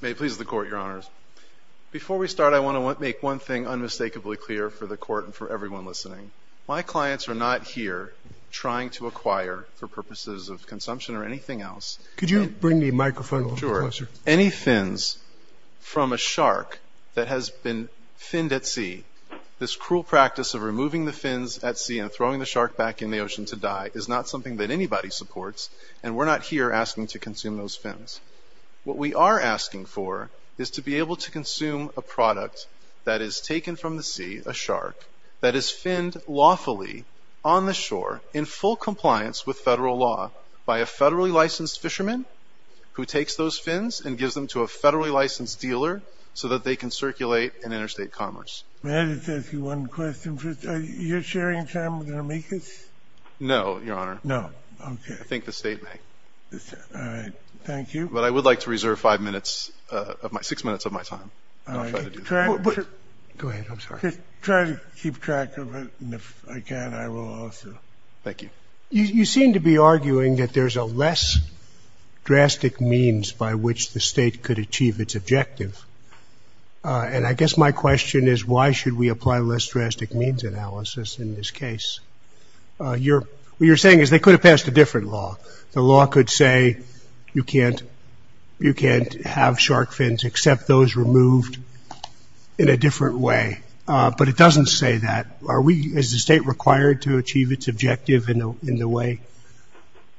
May it please the Court, Your Honors. Before we start, I want to make one thing unmistakably clear for the Court and for everyone listening. My clients are not here trying to acquire for purposes of consumption or anything else. Could you bring the microphone closer? Sure. Any fins from a shark that has been finned at sea, this cruel practice of removing the fins at sea and throwing the shark back in the ocean to die is not something that anybody supports, and we're not here asking to consume those fins. What we are asking for is to be able to consume a product that is taken from the sea, a shark, that is finned lawfully on the shore in full compliance with federal law by a federally licensed fisherman who takes those fins and gives them to a federally licensed dealer so that they can circulate in interstate commerce. May I just ask you one question first? Are you sharing time with me? I think the State may. Thank you. But I would like to reserve five minutes, six minutes of my time. Go ahead. I'm sorry. Just try to keep track of it, and if I can, I will also. Thank you. You seem to be arguing that there's a less drastic means by which the State could achieve its objective, and I guess my question is why should we apply less drastic means analysis in this case? What you're saying is they could have passed a different law. The law could say you can't have shark fins except those removed in a different way, but it doesn't say that. Is the State required to achieve its objective in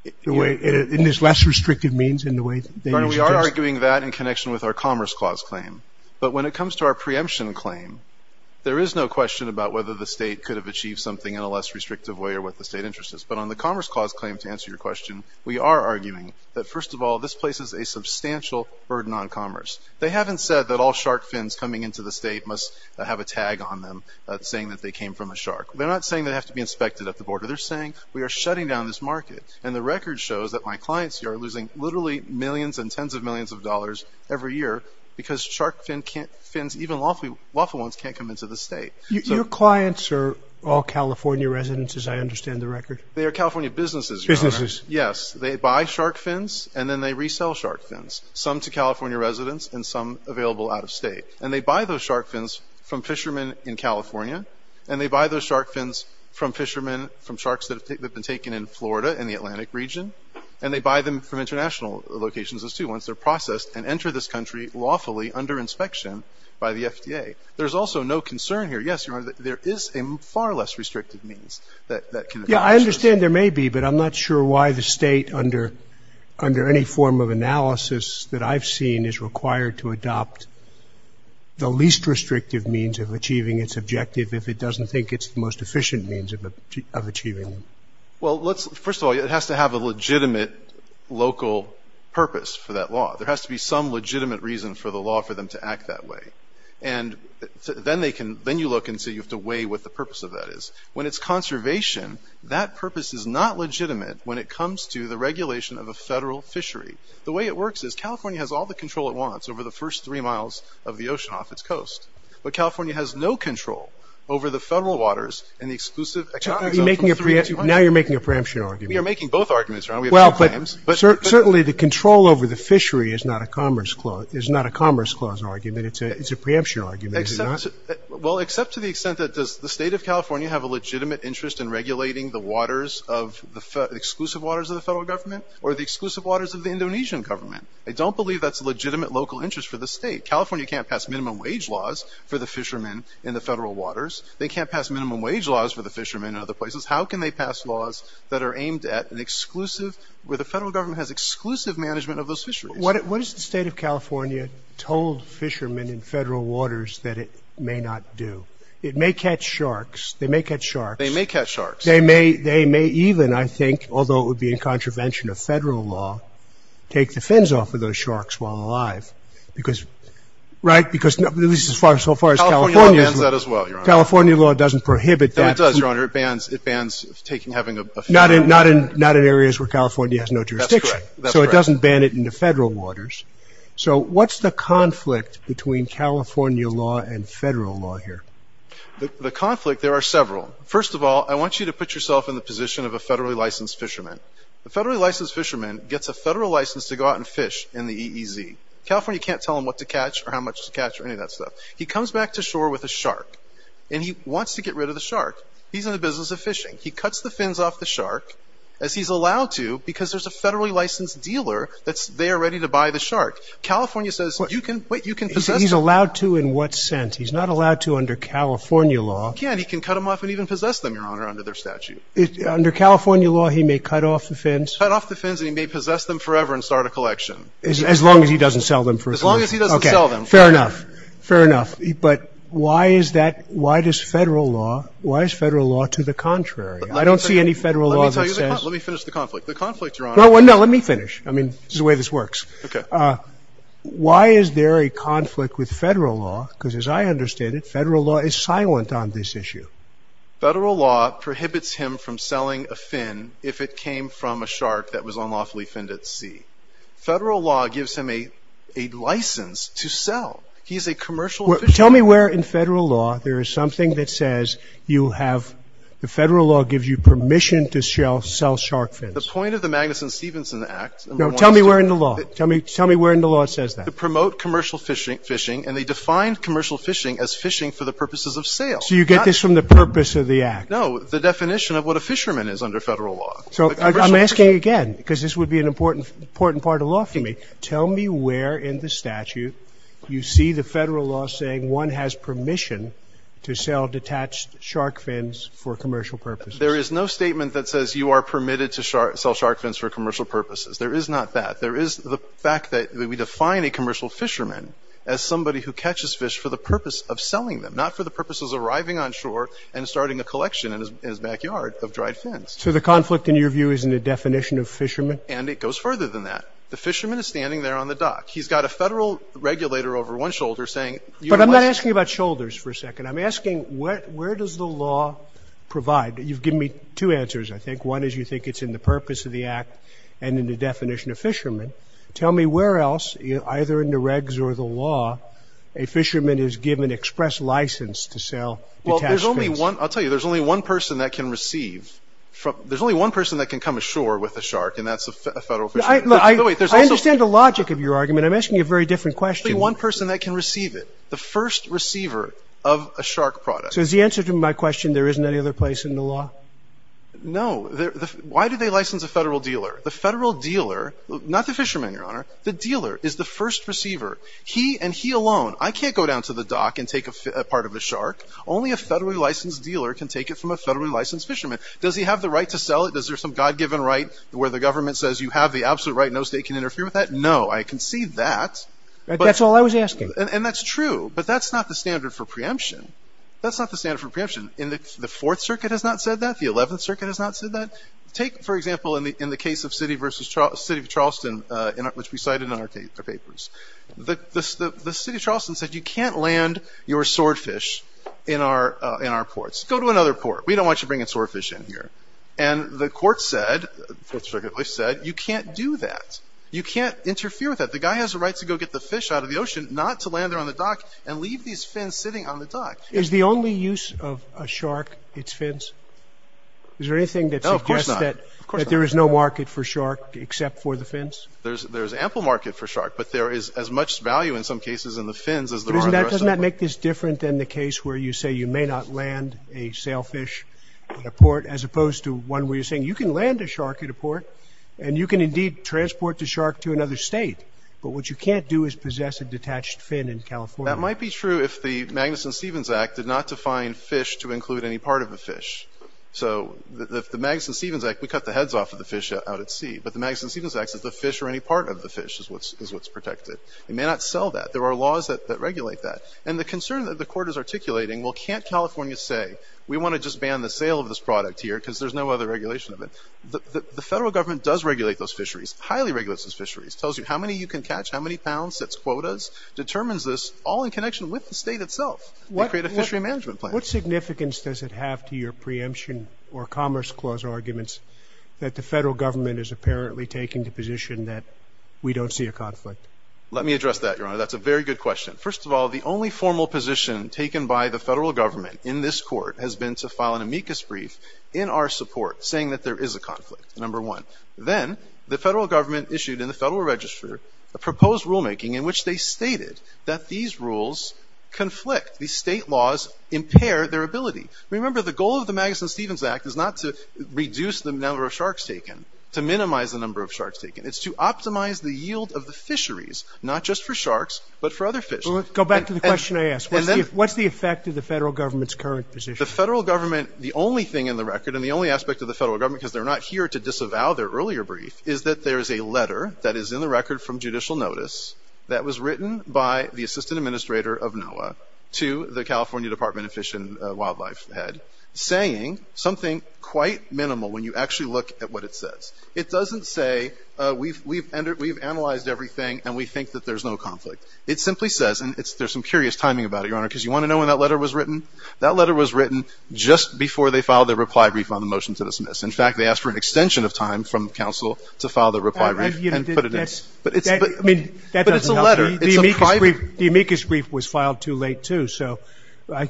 this less restrictive means in the way that you suggest? We are arguing that in connection with our Commerce Clause claim, but when it comes to our preemption claim, there is no question about whether the State could have achieved something in a less restrictive way or what the State interest is. But on the Commerce Clause claim, to answer your question, we are arguing that first of all, this places a substantial burden on commerce. They haven't said that all shark fins coming into the State must have a tag on them saying that they came from a shark. They're not saying they have to be inspected at the border. They're saying we are shutting down this market, and the record shows that my clients here are losing literally millions and tens of millions of dollars every year because shark fins, even lawful ones, can't come into the State. Your clients are all California residents, as I understand the record? They are California businesses. Businesses. Yes. They buy shark fins, and then they resell shark fins, some to California residents and some available out of State. And they buy those shark fins from fishermen in California, and they buy those shark fins from fishermen from sharks that have been taken in Florida in the Atlantic region, and they buy them from international locations, too, once they're processed and enter this country lawfully under inspection by the FDA. There's also no concern here, yes, Your Honor, that there is a far less restrictive means that can address this. Yeah, I understand there may be, but I'm not sure why the State, under any form of analysis that I've seen, is required to adopt the least restrictive means of achieving its objective if it doesn't think it's the most efficient means of achieving them. Well, first of all, it has to have a legitimate local purpose for that law. There has to be some legitimate reason for the law for them to act that way. And then you look and say you have to weigh what the purpose of that is. When it's conservation, that purpose is not legitimate when it comes to the regulation of a federal fishery. The way it works is California has all the control it wants over the first three miles of the ocean off its coast, but California has no control over the federal waters and the exclusive economies Now you're making a preemption argument. We are making both arguments, Your Honor. We have two claims. Well, but certainly the control over the fishery is not a Commerce Clause argument. It's a preemption argument, is it not? Well, except to the extent that does the State of California have a legitimate interest in regulating the waters, the exclusive waters of the federal government, or the exclusive waters of the Indonesian government? I don't believe that's a legitimate local interest for the State. California can't pass minimum wage laws for the fishermen in the federal waters. How can they pass laws that are aimed at an exclusive, where the federal government has exclusive management of those fisheries? What has the State of California told fishermen in federal waters that it may not do? It may catch sharks. They may catch sharks. They may catch sharks. They may even, I think, although it would be in contravention of federal law, take the fins off of those sharks while alive. Because, right? Because at least so far as California California bans that as well, Your Honor. California law doesn't prohibit that. It does, Your Honor. It bans, it bans taking, having a Not in, not in, not in areas where California has no jurisdiction. That's correct. So it doesn't ban it in the federal waters. So what's the conflict between California law and federal law here? The conflict, there are several. First of all, I want you to put yourself in the position of a federally licensed fisherman. A federally licensed fisherman gets a federal license to go out and fish in the EEZ. California can't tell him what to catch or how much to catch or any of that stuff. He comes back to shore with a shark. And he wants to get rid of the shark. He's in the business of fishing. He cuts the fins off the shark, as he's allowed to, because there's a federally licensed dealer that's there ready to buy the shark. California says, you can, wait, you can possess He's allowed to in what sense? He's not allowed to under California law. He can. He can cut them off and even possess them, Your Honor, under their statute. Under California law, he may cut off the fins. Cut off the fins and he may possess them forever and start a collection. As long as he doesn't sell them for his money. As long as he doesn't sell them. Fair enough. Fair enough. But why is that? Why does federal law, why is federal law to the contrary? I don't see any federal law that says Let me finish the conflict. The conflict, Your Honor No, no, let me finish. I mean, this is the way this works. Why is there a conflict with federal law? Because as I understand it, federal law is silent on this issue. Federal law prohibits him from selling a fin if it came from a shark that was unlawfully finned at sea. Federal law gives him a license to sell. He's a commercial fisherman. Tell me where in federal law there is something that says you have, the federal law gives you permission to sell shark fins. The point of the Magnuson-Stevenson Act No, tell me where in the law. Tell me where in the law it says that. To promote commercial fishing and they defined commercial fishing as fishing for the purposes of sale. So you get this from the purpose of the act. No, the definition of what a fisherman is under federal law. So I'm asking again, because this would be an important part of law for me. Tell me where in the statute you see the federal law saying one has permission to sell detached shark fins for commercial purposes. There is no statement that says you are permitted to sell shark fins for commercial purposes. There is not that. There is the fact that we define a commercial fisherman as somebody who catches fish for the purpose of selling them, not for the purposes of arriving on shore and starting a collection in his backyard of dried fins. So the conflict, in your view, is in the definition of fisherman? And it goes further than that. The fisherman is standing there on the dock. He's got a federal regulator over one shoulder saying. But I'm not asking about shoulders for a second. I'm asking where does the law provide? You've given me two answers, I think. One is you think it's in the purpose of the act and in the definition of fisherman. Tell me where else, either in the regs or the law, a fisherman is given express license to sell. Well, there's only one. I'll tell you, there's only one person that can receive from there's only one person that can come ashore with a shark. And that's a federal fisherman. I understand the logic of your argument. I'm asking you a very different question. One person that can receive it, the first receiver of a shark product. So is the answer to my question, there isn't any other place in the law? No. Why do they license a federal dealer? The federal dealer, not the fisherman, Your Honor, the dealer is the first receiver. He and he alone. I can't go down to the dock and take a part of the shark. Only a federally licensed dealer can take it from a federally licensed fisherman. Does he have the right to sell it? Is there some God given right where the government says you have the absolute right? No state can interfere with that? No, I can see that. That's all I was asking. And that's true. But that's not the standard for preemption. That's not the standard for preemption in the Fourth Circuit has not said that the Eleventh Circuit has not said that. Take, for example, in the in the case of city versus city of Charleston, which we cited in our papers, the city of Charleston said you can't land your swordfish in our in our ports. Go to another port. We don't want you bringing swordfish in here. And the court said, said you can't do that. You can't interfere with that. The guy has a right to go get the fish out of the ocean, not to land there on the dock and leave these fins sitting on the dock. Is the only use of a shark, its fins? Is there anything that of course that there is no market for shark except for the fins? There's there's ample market for shark, but there is as much value in some cases in the fins as that. Doesn't that make this different than the case where you say you may not land a sailfish at a port, as opposed to one where you're saying you can land a shark at a port and you can indeed transport the shark to another state. But what you can't do is possess a detached fin in California. That might be true if the Magnuson-Stevens Act did not define fish to include any part of a fish. So the Magnuson-Stevens Act, we cut the heads off of the fish out at sea. But the Magnuson-Stevens Act says the fish or any part of the fish is what's protected. It may not sell that. There are laws that regulate that. And the concern that the court is articulating, well, can't California say we want to just ban the sale of this product here because there's no other regulation of it? The federal government does regulate those fisheries, highly regulates those fisheries, tells you how many you can catch, how many pounds, sets quotas, determines this all in connection with the state itself. They create a fishery management plan. What significance does it have to your preemption or Commerce Clause arguments that the federal government is apparently taking the position that we don't see a conflict? Let me address that, Your Honor. That's a very good question. First of all, the only formal position taken by the federal government is to file an amicus brief in our support saying that there is a conflict, number one. Then the federal government issued in the Federal Register a proposed rulemaking in which they stated that these rules conflict. These state laws impair their ability. Remember, the goal of the Magnuson-Stevens Act is not to reduce the number of sharks taken, to minimize the number of sharks taken. It's to optimize the yield of the fisheries, not just for sharks, but for other fish. Go back to the question I asked. What's the effect of the federal government's current position? The federal government, the only thing in the record and the only aspect of the federal government, because they're not here to disavow their earlier brief, is that there is a letter that is in the record from judicial notice that was written by the assistant administrator of NOAA to the California Department of Fish and Wildlife head saying something quite minimal when you actually look at what it says. It doesn't say, we've analyzed everything and we think that there's no conflict. It simply says, and there's some curious timing about it, Your Honor, because you want to know when that letter was written? That letter was written just before they filed their reply brief on the motion to dismiss. In fact, they asked for an extension of time from counsel to file the reply brief and put it in. But it's a letter. The amicus brief was filed too late, too, so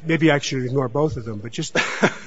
maybe I should ignore both of them. But just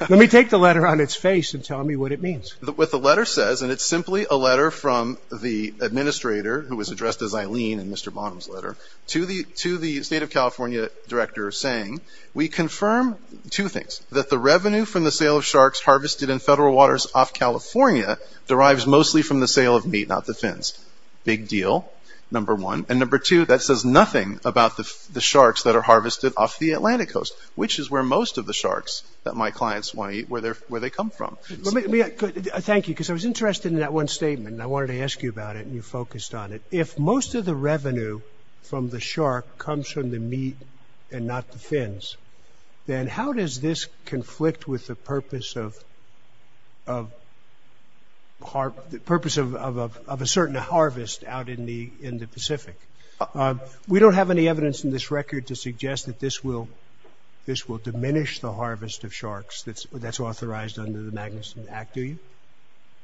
let me take the letter on its face and tell me what it means. What the letter says, and it's simply a letter from the administrator who was addressed as Eileen in Mr. Bonham's letter, to the state of California director saying, we confirm two things, that the revenue from the sale of sharks harvested in federal waters off California derives mostly from the sale of meat, not the fins. Big deal, number one. And number two, that says nothing about the sharks that are harvested off the Atlantic coast, which is where most of the sharks that my clients want to eat, where they're where they come from. Thank you, because I was interested in that one statement and I wanted to ask you about it and you focused on it. If most of the revenue from the shark comes from the meat and not the fins, then how does this conflict with the purpose of the purpose of a certain harvest out in the in the Pacific? We don't have any evidence in this record to suggest that this will this will diminish the harvest of sharks that's authorized under the Magnuson Act, do you?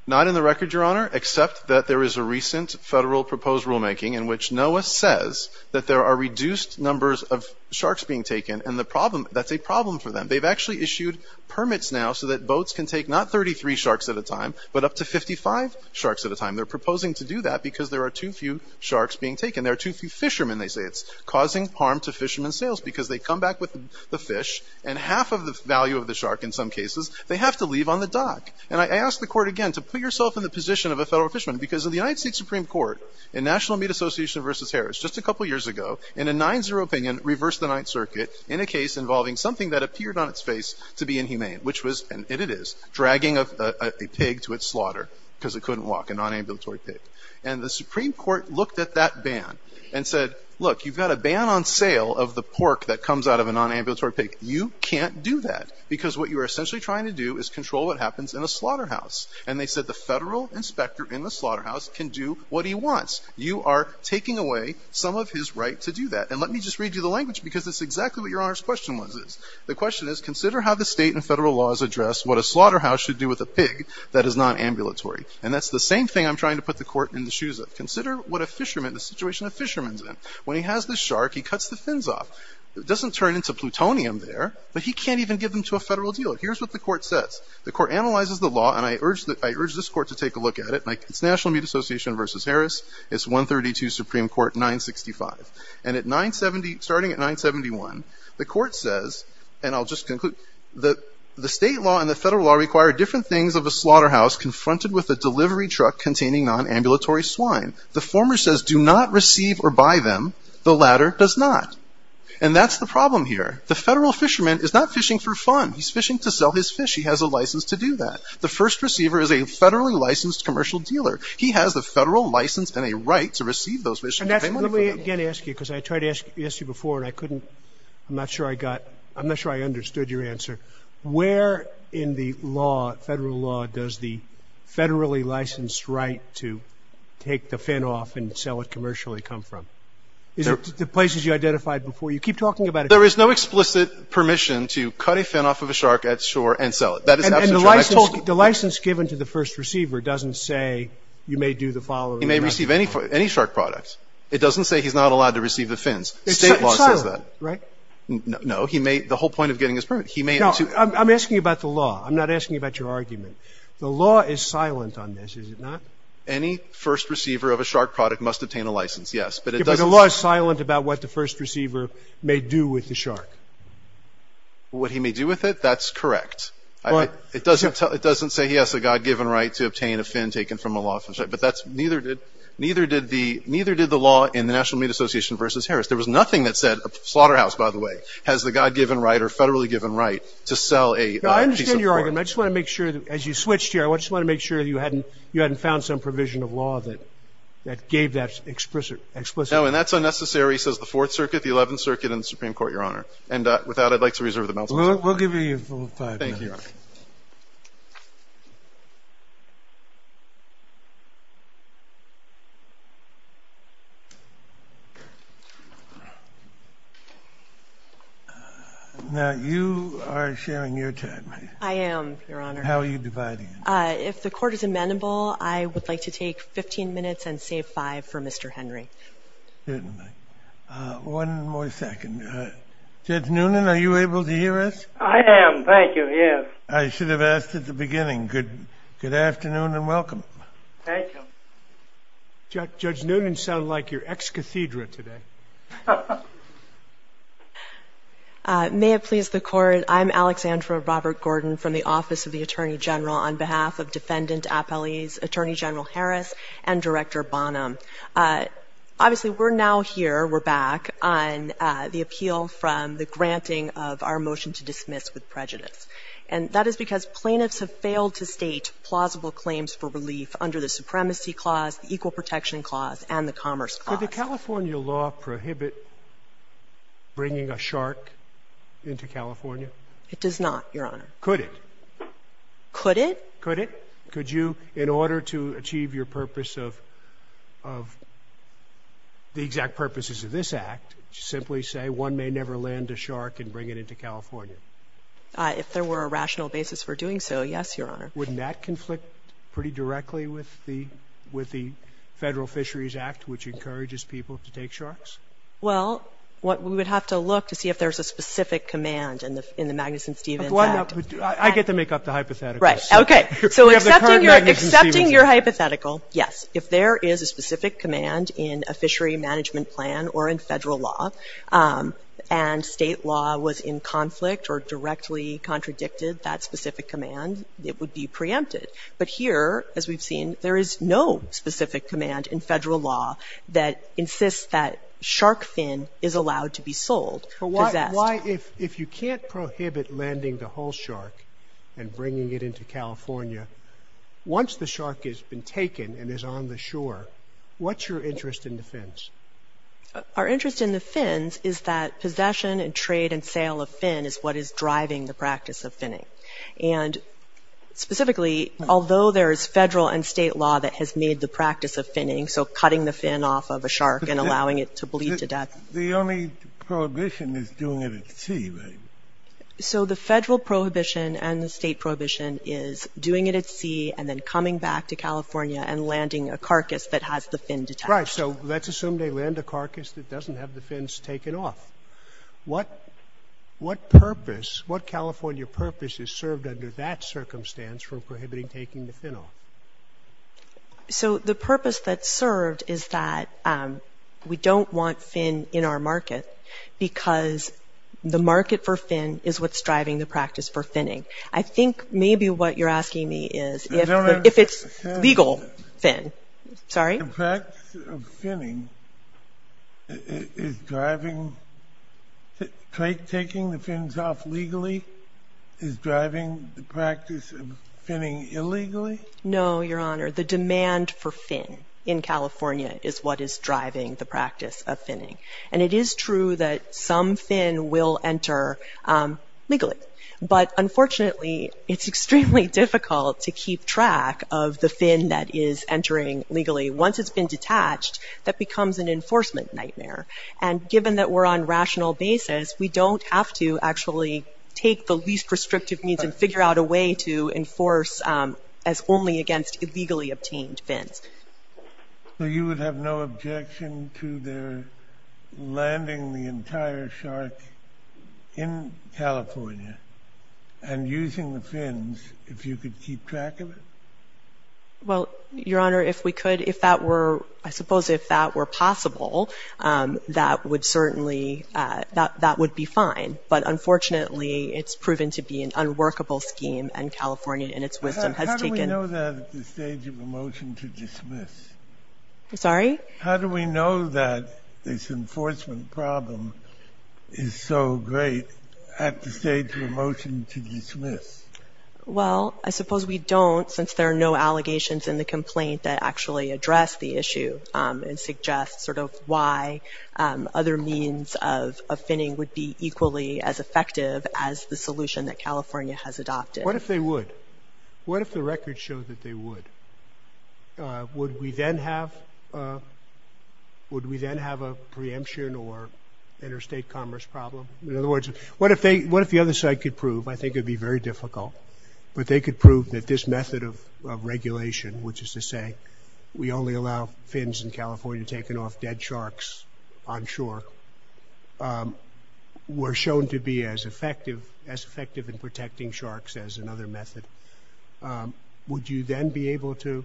Not in the record, your honor, except that there is a recent federal proposed rulemaking in which NOAA says that there are reduced numbers of sharks being taken and the problem that's a problem for them. They've actually issued permits now so that boats can take not thirty three sharks at a time, but up to fifty five sharks at a time. They're proposing to do that because there are too few sharks being taken. There are too few fishermen. They say it's causing harm to fishermen sales because they come back with the fish and half of the value of the shark in some cases they have to leave on the dock. And I ask the court again to put yourself in the position of a federal fisherman because of the United States Supreme Court and National Meat Association versus Harris just a couple of years ago in a nine zero opinion reversed the Ninth Circuit in a case involving something that appeared on its face to be inhumane, which was and it is dragging of a pig to its slaughter because it couldn't walk a non-ambulatory pig. And the Supreme Court looked at that ban and said, look, you've got a ban on sale of the pork that comes out of a non-ambulatory pig. You can't do that because what you are essentially trying to do is control what a slaughterhouse and they said the federal inspector in the slaughterhouse can do what he wants. You are taking away some of his right to do that. And let me just read you the language because it's exactly what your honest question was is. The question is, consider how the state and federal laws address what a slaughterhouse should do with a pig that is non-ambulatory. And that's the same thing I'm trying to put the court in the shoes of. Consider what a fisherman, the situation a fisherman's in. When he has the shark, he cuts the fins off. It doesn't turn into plutonium there, but he can't even give them to a federal dealer. Here's what the court says. The court analyzes the law and I urge that I urge this court to take a look at it. It's National Meat Association versus Harris. It's 132 Supreme Court 965. And at 970, starting at 971, the court says, and I'll just conclude that the state law and the federal law require different things of a slaughterhouse confronted with a delivery truck containing non-ambulatory swine. The former says do not receive or buy them. The latter does not. And that's the problem here. The federal fisherman is not fishing for fun. He's fishing to sell his fish. He has a license to do that. The first receiver is a federally licensed commercial dealer. He has the federal license and a right to receive those fish. And that's what we're going to ask you, because I tried to ask you before and I couldn't. I'm not sure I got I'm not sure I understood your answer. Where in the law, federal law, does the federally licensed right to take the fin off and sell it commercially come from? Is it the places you identified before you keep talking about it? There is no explicit permission to cut a fin off of a shark at shore and sell it. That is the license given to the first receiver doesn't say you may do the following. You may receive any shark products. It doesn't say he's not allowed to receive the fins. It's that right? No, he made the whole point of getting his permit. He may. I'm asking about the law. I'm not asking about your argument. The law is silent on this, is it not? Any first receiver of a shark product must obtain a license. Yes, but the law is silent about what the first receiver may do with the shark. What he may do with it, that's correct. It doesn't it doesn't say he has a God given right to obtain a fin taken from a law. But that's neither did neither did the neither did the law in the National Meat Association versus Harris. There was nothing that said a slaughterhouse, by the way, has the God given right or federally given right to sell a piece of pork. I just want to make sure that as you switched here, I just want to make sure you hadn't found some provision of law that that gave that explicit explicit. Oh, and that's unnecessary, says the Fourth Circuit, the Eleventh Circuit and the Supreme Court, Your Honor. And without I'd like to reserve the balance. We'll give you five. Now, you are sharing your time. I am, Your Honor. How are you dividing? If the court is amenable, I would like to take 15 minutes and save five for Mr. Henry. One more second. Judge Noonan, are you able to hear us? I am. Thank you. Yes, I should have asked at the beginning. Good. Good afternoon and welcome. Thank you. Judge Noonan sound like your ex cathedra today. May it please the court. I'm Alexandra Robert Gordon from the Office of the Supreme Court, and I'm here on behalf of Defendant Appellees Attorney General Harris and Director Bonham. Obviously, we're now here. We're back on the appeal from the granting of our motion to dismiss with prejudice. And that is because plaintiffs have failed to state plausible claims for relief under the Supremacy Clause, the Equal Protection Clause and the Commerce Clause. Did the California law prohibit bringing a shark into California? It does not, Your Honor. Could it? Could it? Could it? Could you, in order to achieve your purpose of the exact purposes of this act, simply say one may never land a shark and bring it into California? If there were a rational basis for doing so, yes, Your Honor. Wouldn't that conflict pretty directly with the Federal Fisheries Act, which encourages people to take sharks? Well, we would have to look to see if there's a specific command in the Magnuson-Stevens Act. I get to make up the hypothetical. Right. Okay. So accepting your hypothetical, yes. If there is a specific command in a fishery management plan or in Federal law, and State law was in conflict or directly contradicted that specific command, it would be preempted. But here, as we've seen, there is no specific command in Federal law that insists that shark fin is allowed to be sold, possessed. If you can't prohibit landing the whole shark and bringing it into California, once the shark has been taken and is on the shore, what's your interest in the fins? Our interest in the fins is that possession and trade and sale of fin is what is driving the practice of finning. And specifically, although there is Federal and State law that has made the practice of finning, so cutting the fin off of a shark and allowing it to bleed to death. The only prohibition is doing it at sea, right? So the Federal prohibition and the State prohibition is doing it at sea and then coming back to California and landing a carcass that has the fin detached. Right. So let's assume they land a carcass that doesn't have the fins taken off. What purpose, what California purpose is served under that circumstance for prohibiting taking the fin off? So the purpose that's served is that we don't want fin in our market because the market for fin is what's driving the practice for finning. I think maybe what you're asking me is if it's legal fin. Sorry? The practice of finning is driving, taking the fins off legally is driving the practice of finning illegally? No, Your Honor. The demand for fin in California is what is driving the practice of finning. And it is true that some fin will enter legally. But unfortunately, it's extremely difficult to keep track of the fin that is entering legally. Once it's been detached, that becomes an enforcement nightmare. And given that we're on rational basis, we don't have to actually take the least restrictive means and figure out a way to enforce as only against illegally obtained fins. So you would have no objection to their landing the entire shark in California and using the fins if you could keep track of it? Well, Your Honor, if we could, if that were, I suppose if that were possible, that would certainly, that would be fine. But unfortunately, it's proven to be an unworkable scheme. And California, in its wisdom, has taken How do we know that at the stage of a motion to dismiss? Sorry? How do we know that this enforcement problem is so great at the stage of a motion to dismiss? Well, I suppose we don't, since there are no allegations in the complaint that actually address the issue and suggest sort of why other means of finning would be equally as effective as the solution that California has adopted. What if they would? What if the records show that they would? Would we then have a preemption or interstate commerce problem? In other words, what if the other side could prove? I think it'd be very difficult. But they could prove that this method of regulation, which is to say, we only allow fins in California taken off dead sharks on shore, were shown to be as effective, as effective in protecting sharks as another method. Would you then be able to,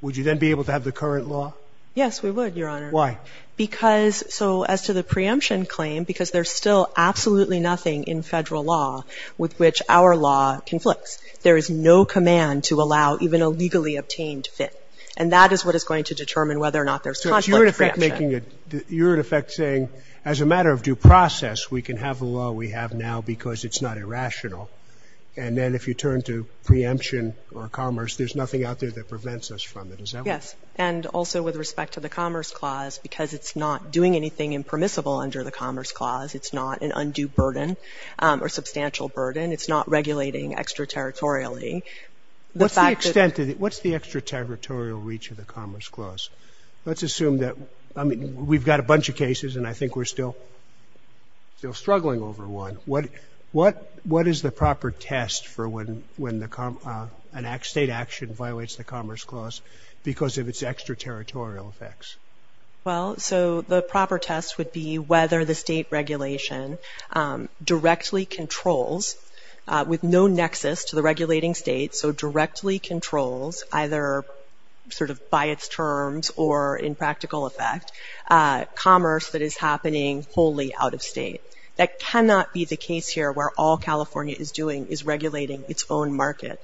would you then be able to have the current law? Yes, we would, Your Honor. Why? Because, so as to the preemption claim, because there's still absolutely nothing in federal law with which our law conflicts. There is no command to allow even a legally obtained fin. And that is what is going to determine whether or not there's conflict of preemption. You're in effect saying, as a matter of due process, we can have a law we have now because it's not irrational. And then if you turn to preemption or commerce, there's nothing out there that prevents us from it. Is that what you're saying? Yes. And also with respect to the Commerce Clause, because it's not doing anything impermissible under the Commerce Clause. It's not an undue burden or substantial burden. It's not regulating extraterritorially. What's the extent of it? What's the extraterritorial reach of the Commerce Clause? Let's assume that, I mean, we've got a bunch of cases, and I think we're still struggling over one. What is the proper test for when a state action violates the Commerce Clause because of its extraterritorial effects? Well, so the proper test would be whether the state regulation directly controls, with no nexus to the regulating state, so directly controls, either sort of by its terms or in practical effect, commerce that is happening wholly out of state. That cannot be the case here, where all California is doing is regulating its own market.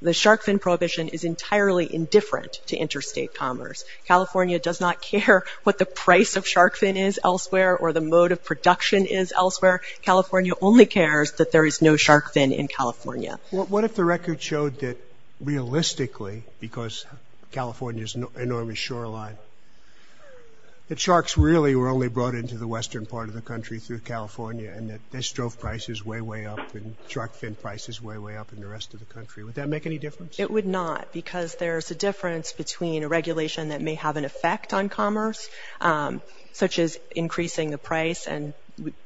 The shark fin prohibition is entirely indifferent to interstate commerce. California does not care what the price of shark fin is elsewhere or the mode of production is elsewhere. California only cares that there is no shark fin in California. What if the record showed that, realistically, because California is an enormous shoreline, that sharks really were only brought into the western part of the country through California and that their strophe price is way, way up and shark fin price is way, way up in the rest of the country? Would that make any difference? It would not, because there is a difference between a regulation that may have an effect on commerce, such as increasing the price, and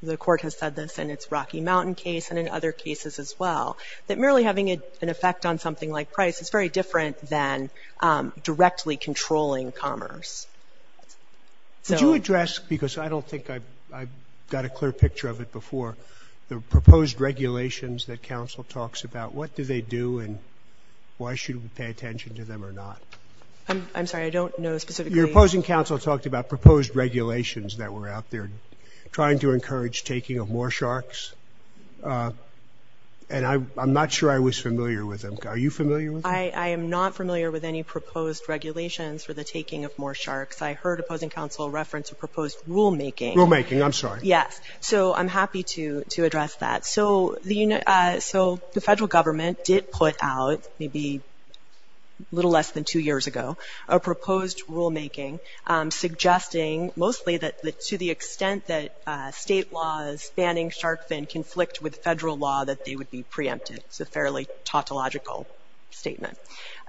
the court has said this in its Rocky Mountain case and in other cases as well, that merely having an effect on something like price is very different than directly controlling commerce. So address, because I don't think I've got a clear picture of it before, the proposed regulations that counsel talks about. What do they do and why should we pay attention to them or not? I'm sorry, I don't know specifically. Your opposing counsel talked about proposed regulations that were out there trying to encourage taking of more sharks. And I'm not sure I was familiar with them. Are you familiar with them? I am not familiar with any proposed regulations for the taking of more sharks. I heard opposing counsel reference a proposed rulemaking. Rulemaking, I'm sorry. Yes. So I'm happy to address that. So the federal government did put out maybe a little less than two years ago a proposed rulemaking suggesting mostly that to the extent that state laws banning shark fin conflict with federal law, that they would be preempted. It's a fairly tautological statement.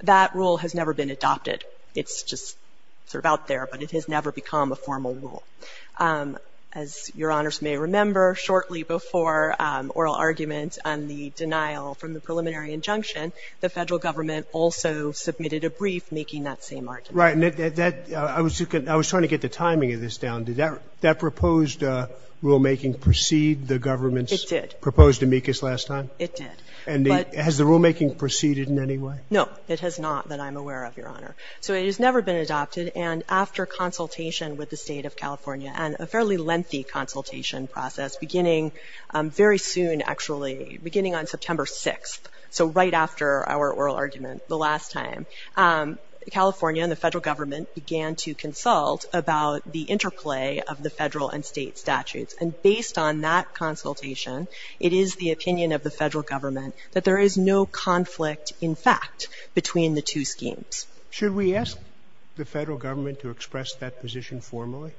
That rule has never been adopted. It's just sort of out there, but it has never become a formal rule. As your honors may remember, shortly before oral arguments on the denial from the preliminary injunction, the federal government also submitted a brief making that same argument. Right. I was trying to get the timing of this down. Did that proposed rulemaking precede the government's proposed amicus last time? It did. And has the rulemaking preceded in any way? No, it has not that I'm aware of, your honor. So it has never been adopted. And after consultation with the state of California and a fairly lengthy consultation process beginning very soon, beginning on September 6, so right after our oral argument the last time, California and the federal government began to consult about the interplay of the federal and state statutes. And based on that consultation, it is the opinion of the federal government that there is no conflict, in fact, between the two schemes. Should we ask the federal government to express that position formally?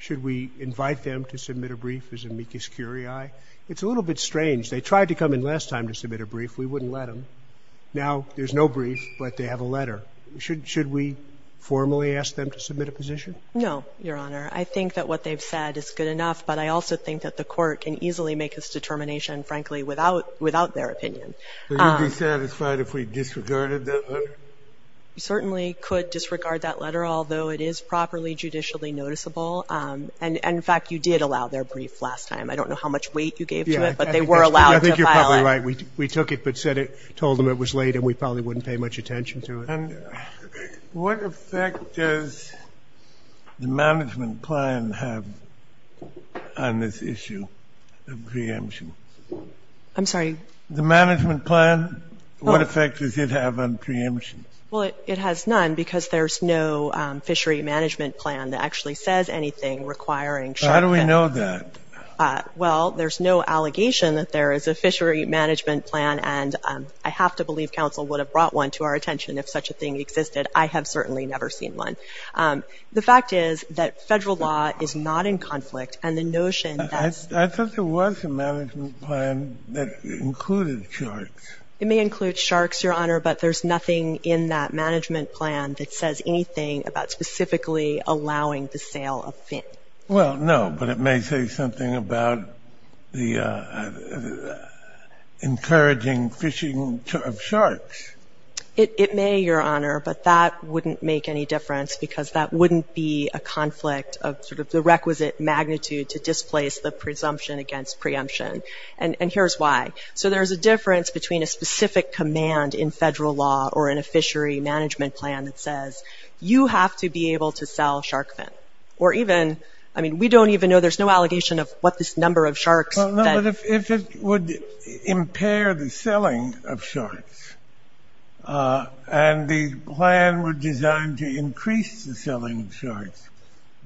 Should we invite them to submit a brief as amicus curiae? It's a little bit strange. They tried to come in last time to submit a brief. We wouldn't let them. Now there's no brief, but they have a letter. Should we formally ask them to submit a position? No, your honor. I think that what they've said is good enough, but I also think that the court can easily make this determination, frankly, without their opinion. Would you be satisfied if we disregarded that letter? We certainly could disregard that letter, although it is properly judicially noticeable. And in fact, you did allow their brief last time. I don't know how much weight you gave to it, but they were allowed to file it. I think you're probably right. We took it, but told them it was late, and we probably wouldn't pay much attention to it. What effect does the management plan have on this issue of preemptions? I'm sorry? The management plan, what effect does it have on preemptions? Well, it has none, because there's no fishery management plan that actually says anything requiring shark death. How do we know that? Well, there's no allegation that there is a fishery management plan, and I have to believe counsel would have brought one to our attention if such a thing existed. I have certainly never seen one. The fact is that federal law is not in conflict, and the notion that's- I thought there was a management plan that included sharks. It may include sharks, your honor, but there's nothing in that management plan that says anything about specifically allowing the sale of fin. Well, no, but it may say something about encouraging fishing of sharks. It may, your honor, but that wouldn't make any difference, because that wouldn't be a conflict of the requisite magnitude to displace the presumption against preemption. And here's why. So there is a difference between a specific command in federal law or in a fishery management plan that says, you have to be able to sell shark fin. Or even, I mean, we don't even know. There's no allegation of what this number of sharks that- Well, no, but if it would impair the selling of sharks, and the plan were designed to increase the selling of sharks,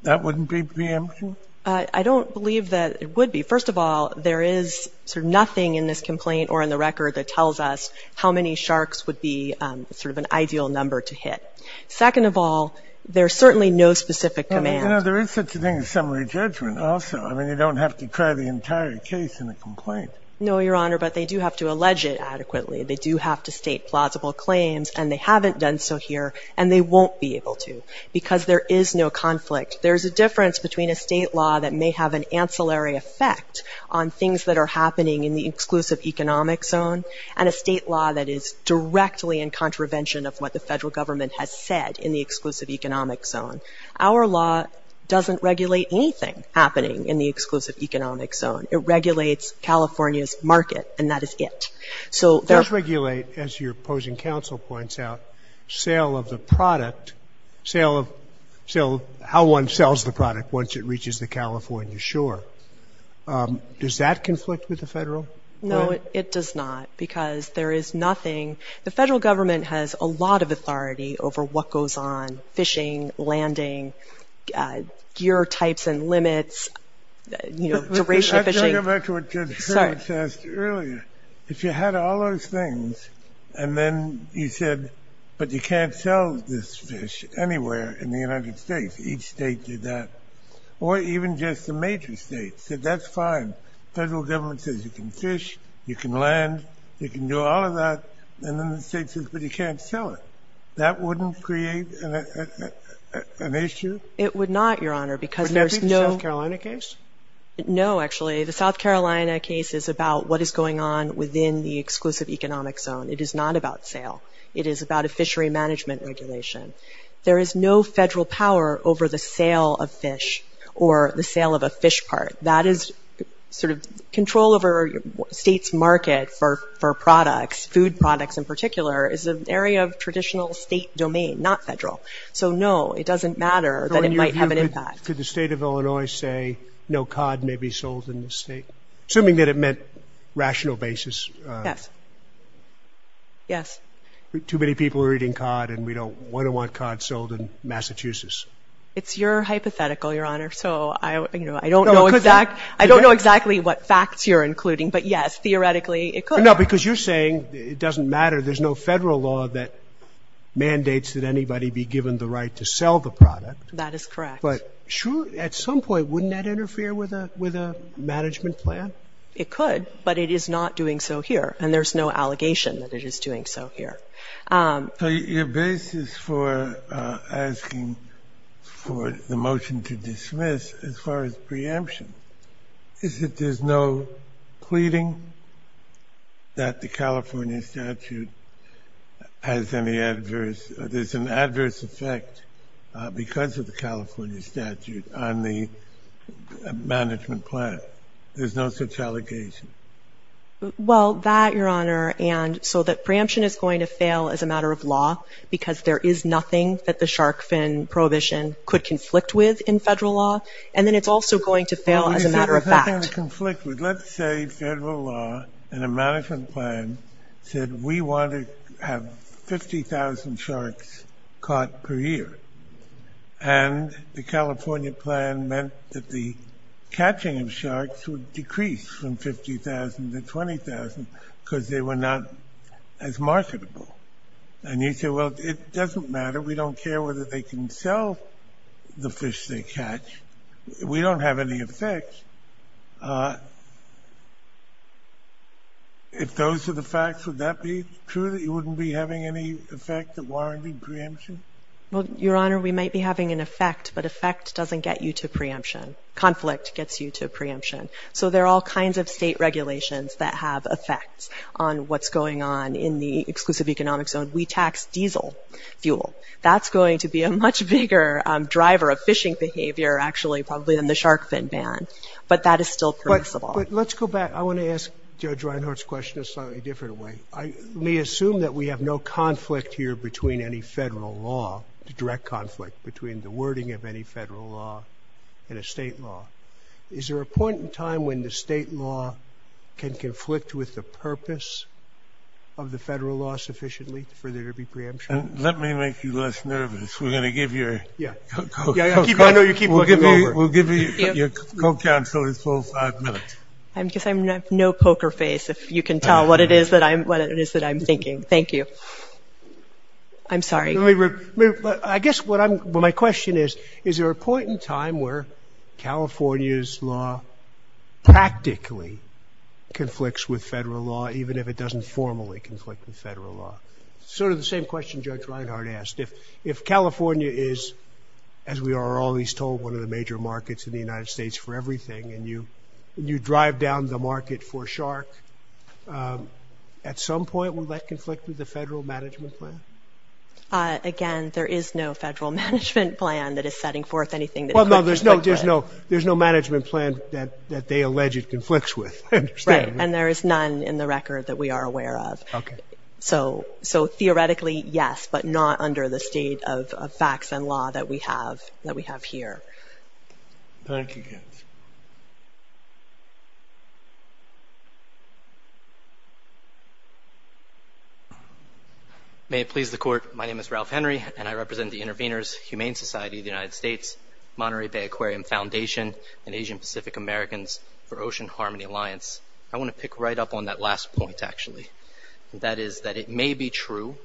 that wouldn't be preemption? I don't believe that it would be. First of all, there is nothing in this complaint or in the record that tells us how many sharks would be an ideal number to hit. Second of all, there's certainly no specific command. There is such a thing as summary judgment also. I mean, you don't have to try the entire case in a complaint. No, your honor, but they do have to allege it adequately. They do have to state plausible claims, and they haven't done so here. And they won't be able to, because there is no conflict. There's a difference between a state law that may have an ancillary effect on things that are happening in the exclusive economic zone and a state law that is directly in contravention of what the federal government has said in the exclusive economic zone. Our law doesn't regulate anything happening in the exclusive economic zone. It regulates California's market, and that is it. So there's regulate, as your opposing counsel points out, sale of the product, how one sells the product once it reaches the California shore. Does that conflict with the federal? No, it does not, because there is nothing. The federal government has a lot of authority over what goes on, fishing, landing, gear types and limits, duration of fishing. I'm going to go back to what Judge Hurwitz asked earlier. If you had all those things, and then you said, but you can't sell this fish anywhere in the United States. Each state did that. Or even just the major states said, that's fine. Federal government says you can fish, you can land, you can do all of that. And then the state says, but you can't sell it. That wouldn't create an issue? It would not, Your Honor, because there's no. Would that be the South Carolina case? No, actually. The South Carolina case is about what is going on within the exclusive economic zone. It is not about sale. It is about a fishery management regulation. There is no federal power over the sale of fish, or the sale of a fish part. That is sort of control over state's market for products, food products in particular, is an area of traditional state domain, not federal. So no, it doesn't matter that it might have an impact. Could the state of Illinois say, no cod may be sold in this state? Assuming that it meant rational basis. Yes. Yes. Too many people are eating cod, and we don't want to want cod sold in Massachusetts. It's your hypothetical, Your Honor. So I don't know exactly what facts you're including, but yes, theoretically, it could. No, because you're saying it doesn't matter. There's no federal law that mandates that anybody be given the right to sell the product. That is correct. But sure, at some point, wouldn't that interfere with a management plan? It could, but it is not doing so here, and there's no allegation that it is doing so here. So your basis for asking for the motion to dismiss, as far as preemption, is that there's no pleading that the California statute has any adverse, there's an adverse effect because of the California statute on the management plan. There's no such allegation. Well, that, Your Honor, and so that preemption is going to fail as a matter of law because there is nothing that the shark fin prohibition could conflict with in federal law, and then it's also going to fail as a matter of fact. It's not going to conflict with. Let's say federal law and a management plan said we want to have 50,000 sharks caught per year, and the California plan meant that the catching of sharks would decrease from 50,000 to 20,000 because they were not as marketable. And you say, well, it doesn't matter. We don't care whether they can sell the fish they catch. We don't have any effect. If those are the facts, would that be true that you wouldn't be having any effect of warranting preemption? Well, Your Honor, we might be having an effect, but effect doesn't get you to preemption. Conflict gets you to preemption. So there are all kinds of state regulations that have effects on what's going on in the exclusive economic zone. We tax diesel fuel. That's going to be a much bigger driver of fishing behavior, actually, probably, than the shark fin ban. But that is still permissible. But let's go back. I want to ask Judge Reinhart's question a slightly different way. I may assume that we have no conflict here between any federal law, direct conflict between the wording of any federal law and a state law. Is there a point in time when the state law can conflict with the purpose of the federal law sufficiently for there to be preemption? Let me make you less nervous. We're going to give your co-counselor a full five minutes. I guess I have no poker face, if you can tell what it is that I'm thinking. Thank you. I'm sorry. I guess what my question is, is there a point in time where California's law practically conflicts with federal law, even if it doesn't formally conflict with federal law? Sort of the same question Judge Reinhart asked. If California is, as we are always told, one of the major markets in the United States for everything, and you drive down the market for shark, at some point, will that conflict with the federal management plan? Again, there is no federal management plan that is setting forth anything that it could conflict with. There's no management plan that they allege it conflicts with. Right. And there is none in the record that we are aware of. So theoretically, yes, but not under the state of facts and law that we have here. Thank you. May it please the court. My name is Ralph Henry, and I represent the Intervenors Humane Society of the United States, Monterey Bay Aquarium Foundation, and Asian Pacific Americans for Ocean Harmony Alliance. I want to pick right up on that last point, actually. That is that it may be true,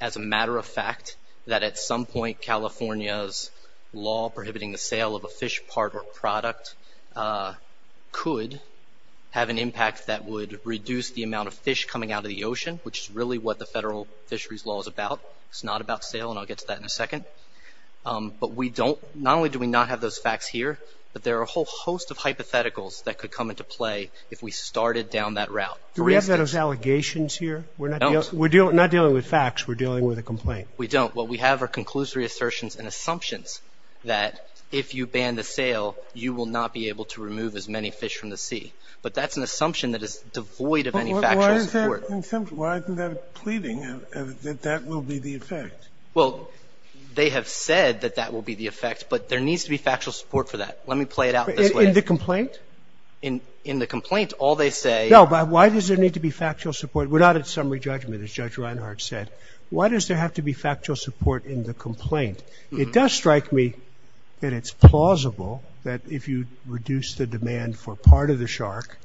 as a matter of fact, that at some point California's law prohibiting the sale of a fish part or product could have an impact that would reduce the amount of fish coming out of the ocean, which is really what the federal fisheries law is about. It's not about sale, and I'll get to that in a second. But we don't, not only do we not have those facts here, but there are a whole host of hypotheticals that could come into play if we started down that route. Do we have those allegations here? We're not dealing with facts, we're dealing with a complaint. We don't. What we have are conclusory assertions and assumptions that if you ban the sale, you will not be able to remove as many fish from the sea. But that's an assumption that is devoid of any factual support. Why isn't there a pleading that that will be the effect? Well, they have said that that will be the effect, but there needs to be factual support for that. Let me play it out this way. In the complaint? In the complaint, all they say are. No, but why does there need to be factual support? We're not at summary judgment, as Judge Reinhart said. Why does there have to be factual support in the complaint? It does strike me that it's plausible that if you reduce the demand for part of the shark,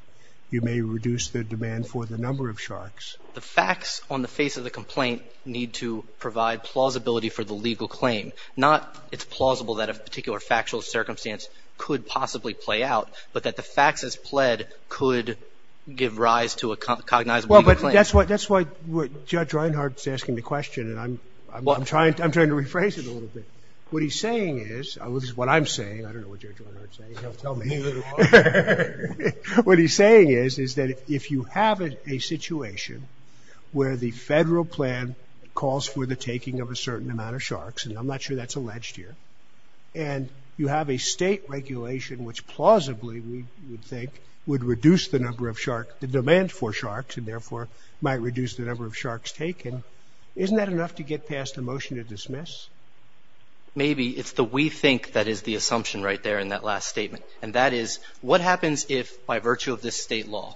you may reduce the demand for the number of sharks. The facts on the face of the complaint need to provide plausibility for the legal claim. Not it's plausible that a particular factual circumstance could possibly play out, but that the facts as pled could give rise to a cognizable legal claim. Well, but that's why Judge Reinhart's asking the question, and I'm trying to rephrase it a little bit. What he's saying is, which is what I'm saying. I don't know what Judge Reinhart's saying. Tell me. What he's saying is, is that if you have a situation where the federal plan calls for the taking of a certain amount of sharks, and I'm not sure that's alleged here, and you have a state regulation which plausibly, we would think, would reduce the number of sharks, the demand for sharks, and therefore might reduce the number of sharks taken, isn't that enough to get past a motion to dismiss? Maybe. It's the we think that is the assumption right there in that last statement. And that is, what happens if, by virtue of this state law,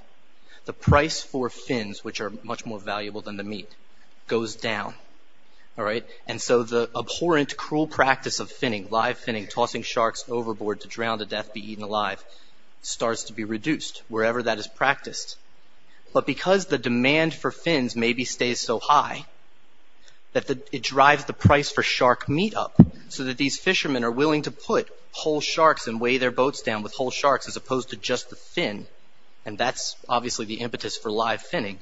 the price for fins, which are much more valuable than the meat, goes down, all right? And so the abhorrent, cruel practice of finning, live finning, tossing sharks overboard to drown to death, be eaten alive, starts to be reduced wherever that is practiced. But because the demand for fins maybe stays so high that it drives the price for shark meat up so that these fishermen are willing to put whole sharks and weigh their boats down with whole sharks as opposed to just the fin, and that's obviously the impetus for live finning,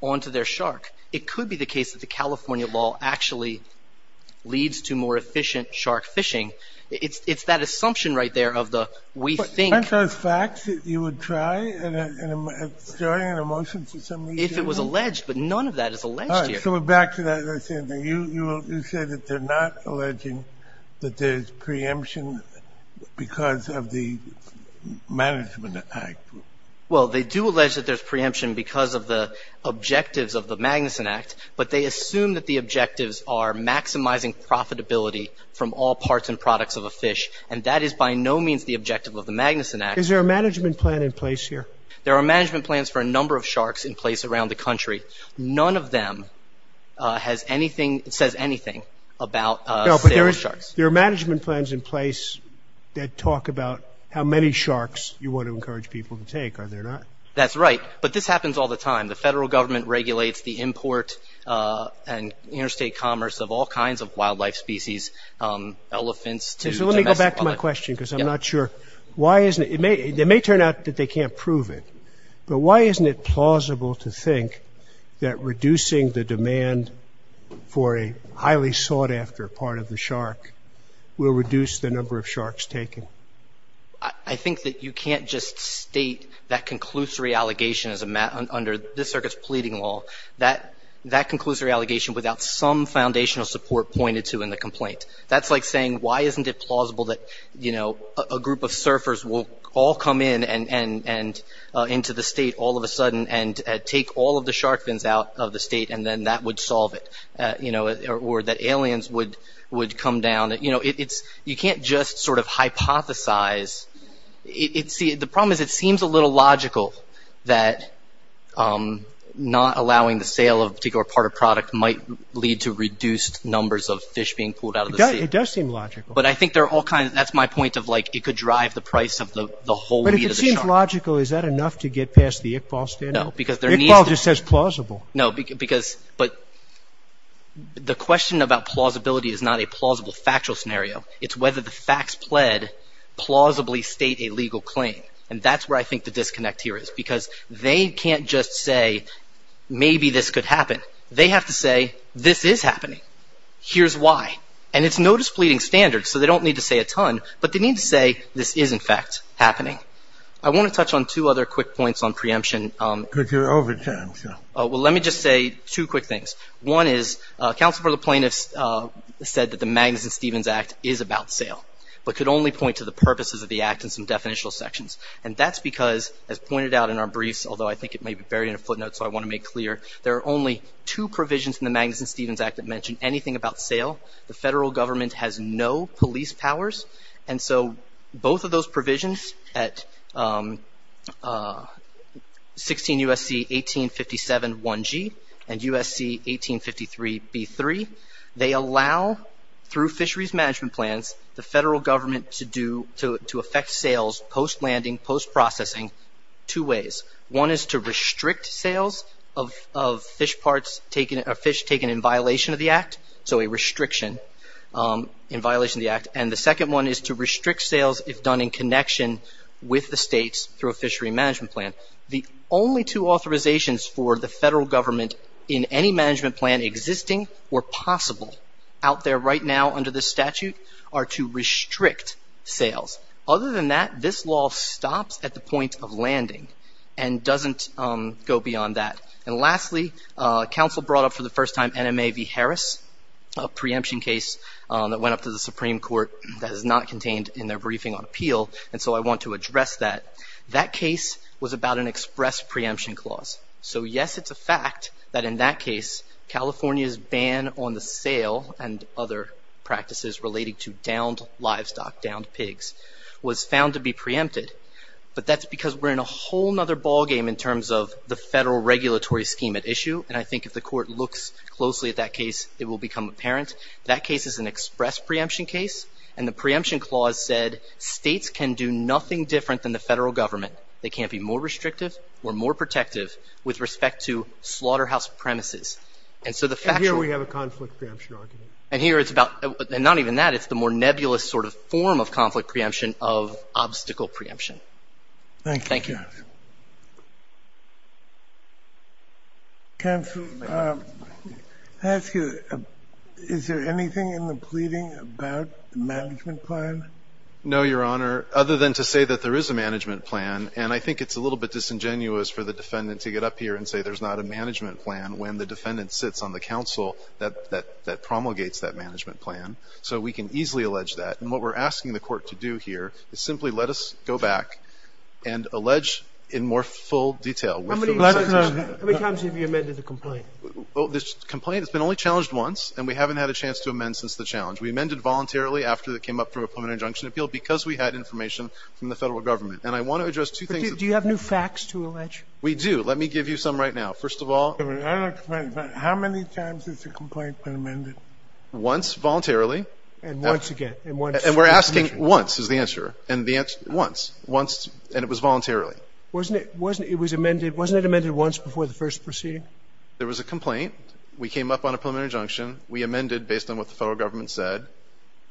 onto their shark. It could be the case that the California law actually leads to more efficient shark fishing. It's that assumption right there of the, we think. Aren't those facts that you would try in starting a motion for some reason? If it was alleged, but none of that is alleged here. All right, so we're back to that same thing. You said that they're not alleging that there's preemption because of the Management Act. Well, they do allege that there's preemption because of the objectives of the Magnuson Act, but they assume that the objectives are maximizing profitability from all parts and products of a fish. And that is by no means the objective of the Magnuson Act. Is there a management plan in place here? There are management plans for a number of sharks in place around the country. None of them has anything, says anything about- There are management plans in place that talk about how many sharks you want to encourage people to take, are there not? That's right, but this happens all the time. The federal government regulates the import and interstate commerce of all kinds of wildlife species, elephants to domestic- So let me go back to my question, because I'm not sure, why isn't it, it may turn out that they can't prove it, but why isn't it plausible to think that reducing the demand for a highly sought after part of the shark will reduce the number of sharks taken? I think that you can't just state that conclusory allegation as a matter, under this circuit's pleading law, that conclusory allegation without some foundational support pointed to in the complaint. That's like saying, why isn't it plausible that a group of surfers will all come in and into the state all of a sudden and take all of the shark fins out of the state and then that would solve it? Or that aliens would come down? You can't just sort of hypothesize. The problem is it seems a little logical that not allowing the sale of a particular part of product might lead to reduced numbers of fish being pulled out of the sea. It does seem logical. But I think they're all kind of, that's my point of like, it could drive the price of the whole meat of the shark. But if it seems logical, is that enough to get past the Iqbal standard? No, because there needs to be- Iqbal just says plausible. No, because, but the question about plausibility is not a plausible factual scenario. It's whether the facts pled plausibly state a legal claim. And that's where I think the disconnect here is because they can't just say, maybe this could happen. They have to say, this is happening. Here's why. And it's notice pleading standards. So they don't need to say a ton, but they need to say this is in fact happening. I want to touch on two other quick points on preemption. Could you over time, sure. Well, let me just say two quick things. One is, counsel for the plaintiffs said that the Magnuson-Stevens Act is about sale, but could only point to the purposes of the act in some definitional sections. And that's because, as pointed out in our briefs, although I think it may be buried in a footnote, so I want to make clear, there are only two provisions in the Magnuson-Stevens Act that mention anything about sale. The federal government has no police powers. And so both of those provisions at 16 U.S.C. 1857 1G and U.S.C. 1853 B3, they allow, through fisheries management plans, the federal government to affect sales post-landing, post-processing, two ways. One is to restrict sales of fish parts taken, or fish taken in violation of the act. So a restriction in violation of the act. And the second one is to restrict sales if done in connection with the states through a fishery management plan. The only two authorizations for the federal government in any management plan existing or possible out there right now under this statute are to restrict sales. Other than that, this law stops at the point of landing and doesn't go beyond that. And lastly, counsel brought up for the first time NMA v. Harris, a preemption case that went up to the Supreme Court that is not contained in their briefing on appeal. And so I want to address that. That case was about an express preemption clause. So yes, it's a fact that in that case, California's ban on the sale and other practices relating to downed livestock, downed pigs, was found to be preempted. But that's because we're in a whole nother ballgame in terms of the federal regulatory scheme at issue. And I think if the court looks closely at that case, it will become apparent. That case is an express preemption case. And the preemption clause said, states can do nothing different than the federal government. They can't be more restrictive or more protective with respect to slaughterhouse premises. And so the fact that we have a conflict preemption argument. And here it's about, and not even that, it's the more nebulous sort of form of conflict preemption of obstacle preemption. Thank you. Thank you. Counsel, I ask you, is there anything in the pleading about the management plan? No, Your Honor. Other than to say that there is a management plan. And I think it's a little bit disingenuous for the defendant to get up here and say there's not a management plan when the defendant sits on the counsel that promulgates that management plan. So we can easily allege that. And what we're asking the court to do here is simply let us go back and allege in more full detail. How many times have you amended the complaint? Well, this complaint has been only challenged once. And we haven't had a chance to amend since the challenge. We amended voluntarily after it came up through a permanent injunction appeal because we had information from the federal government. And I want to address two things. Do you have new facts to allege? We do. Let me give you some right now. First of all. How many times has the complaint been amended? Once, voluntarily. And once again. And we're asking once is the answer. And the answer, once. Once, and it was voluntarily. Wasn't it amended once before the first proceeding? There was a complaint. We came up on a permanent injunction. We amended based on what the federal government said.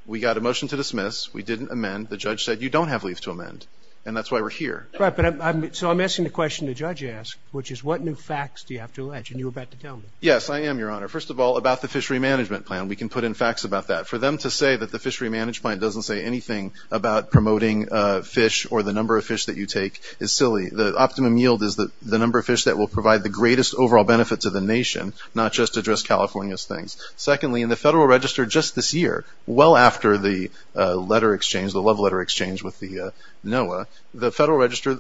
We got a motion to dismiss. We didn't amend. The judge said you don't have leave to amend. And that's why we're here. Right. So I'm asking the question the judge asked, which is what new facts do you have to allege? And you were about to tell me. Yes, I am, Your Honor. First of all, about the fishery management plan. We can put in facts about that. For them to say that the fishery manage plan doesn't say anything about promoting fish or the number of fish that you take is silly. The optimum yield is the number of fish that will provide the greatest overall benefit to the nation, not just address California's things. Secondly, in the federal register just this year, well after the letter exchange, the love letter exchange with the NOAA, the federal register,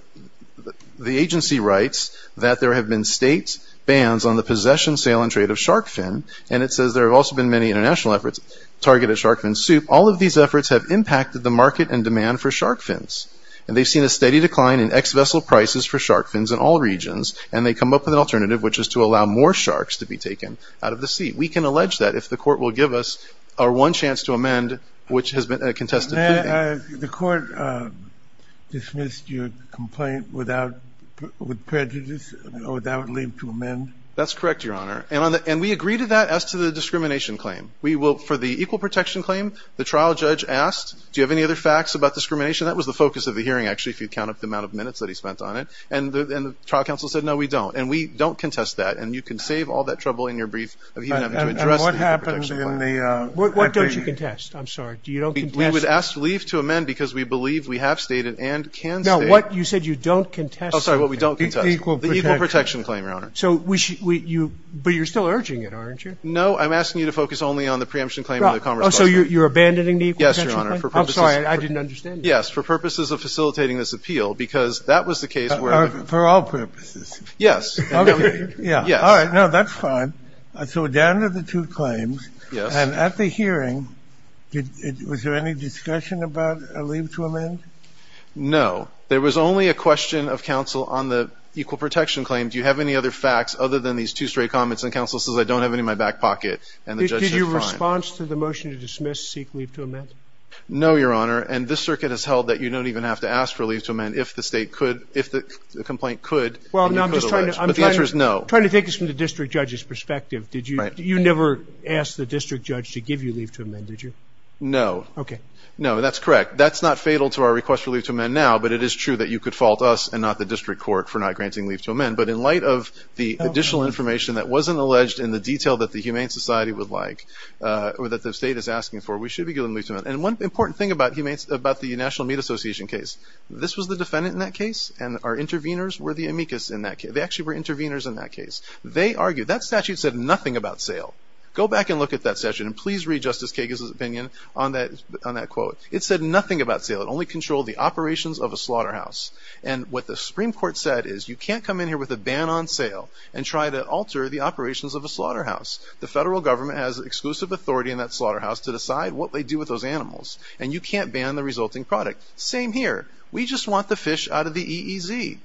the agency writes that there have been state bans on the possession, sale, and trade of shark fin. And it says there have also been many international efforts targeted shark fin soup. All of these efforts have impacted the market and demand for shark fins. And they've seen a steady decline in ex-vessel prices for shark fins in all regions. And they come up with an alternative, which is to allow more sharks to be taken out of the sea. We can allege that if the court will give us our one chance to amend, which has been a contested plea. The court dismissed your complaint without prejudice or without leave to amend? That's correct, Your Honor. And we agree to that as to the discrimination claim. For the equal protection claim, the trial judge asked, do you have any other facts about discrimination? That was the focus of the hearing, actually, if you count up the amount of minutes that he spent on it. And the trial counsel said, no, we don't. And we don't contest that. And you can save all that trouble in your brief of even having to address the equal protection claim. What don't you contest? I'm sorry, do you don't contest? We would ask leave to amend because we believe we have stated and can state. No, what you said you don't contest. Oh, sorry, what we don't contest. The equal protection claim, Your Honor. But you're still urging it, aren't you? No, I'm asking you to focus only on the preemption claim and the commerce clause. Oh, so you're abandoning the equal protection claim? Yes, Your Honor. I'm sorry, I didn't understand you. Yes, for purposes of facilitating this appeal because that was the case where the- For all purposes. Yes. Yeah, all right. No, that's fine. So down to the two claims. And at the hearing, was there any discussion about a leave to amend? No, there was only a question of counsel on the equal protection claim. Do you have any other facts other than these two straight comments? And counsel says, I don't have any in my back pocket. And the judge says, fine. Did your response to the motion to dismiss seek leave to amend? No, Your Honor. And this circuit has held that you don't even have to ask for leave to amend if the state could, if the complaint could, and you could allege. Well, no, I'm just trying to- But the answer is no. I'm trying to think this from the district judge's perspective. Did you- You never asked the district judge to give you leave to amend, did you? No. OK. No, that's correct. That's not fatal to our request for leave to amend now. But it is true that you could fault us and not the district court for not granting leave to amend. But in light of the additional information that wasn't alleged in the detail that the Humane Society would like, or that the state is asking for, we should be given leave to amend. And one important thing about the National Meat Association case, this was the defendant in that case, and our interveners were the amicus in that case. They actually were interveners in that case. They argued, that statute said nothing about sale. Go back and look at that statute, and please read Justice Kagan's opinion on that quote. It said nothing about sale. It only controlled the operations of a slaughterhouse. And what the Supreme Court said is, you can't come in here with a ban on sale and try to alter the operations of a slaughterhouse. The federal government has exclusive authority in that slaughterhouse to decide what they do with those animals. And you can't ban the resulting product. Same here. We just want the fish out of the EEZ.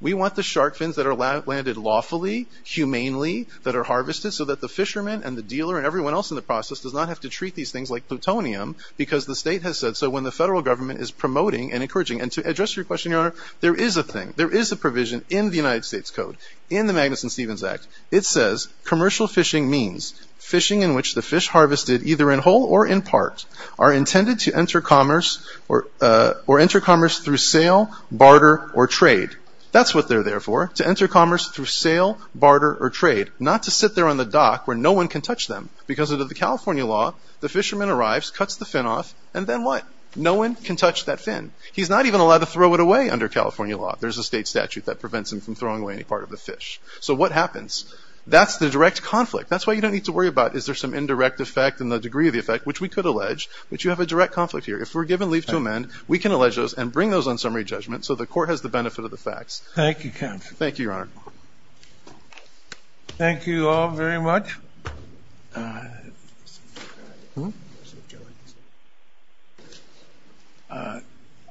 We want the shark fins that are landed lawfully, humanely, that are harvested so that the fishermen and the dealer and everyone else in the process does not have to treat these things like plutonium because the state has said so when the federal government is promoting and encouraging. And to address your question, Your Honor, there is a thing. There is a provision in the United States Code, in the Magnuson-Stevens Act. It says commercial fishing means fishing in which the fish harvested either in whole or in part are intended to enter commerce or enter commerce through sale, barter, or trade. That's what they're there for, to enter commerce through sale, barter, or trade, not to sit there on the dock where no one can touch them. Because under the California law, the fisherman arrives, cuts the fin off, and then what? No one can touch that fin. He's not even allowed to throw it away under California law. There's a state statute that prevents him from throwing away any part of the fish. So what happens? That's the direct conflict. That's why you don't need to worry about, is there some indirect effect in the degree of the effect, which we could allege. But you have a direct conflict here. If we're given leave to amend, we can allege those and bring those on summary judgment so the court has the benefit of the facts. Thank you, counsel. Thank you, Your Honor. Thank you all very much.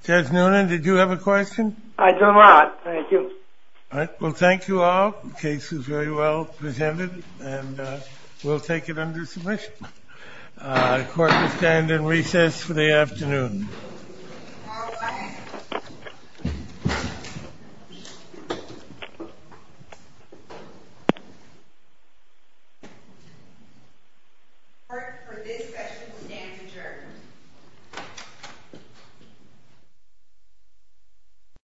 Judge Noonan, did you have a question? I do not, thank you. Well, thank you all. The case is very well presented, and we'll take it under submission. The court will stand in recess for the afternoon. Court, for this session, stands adjourned.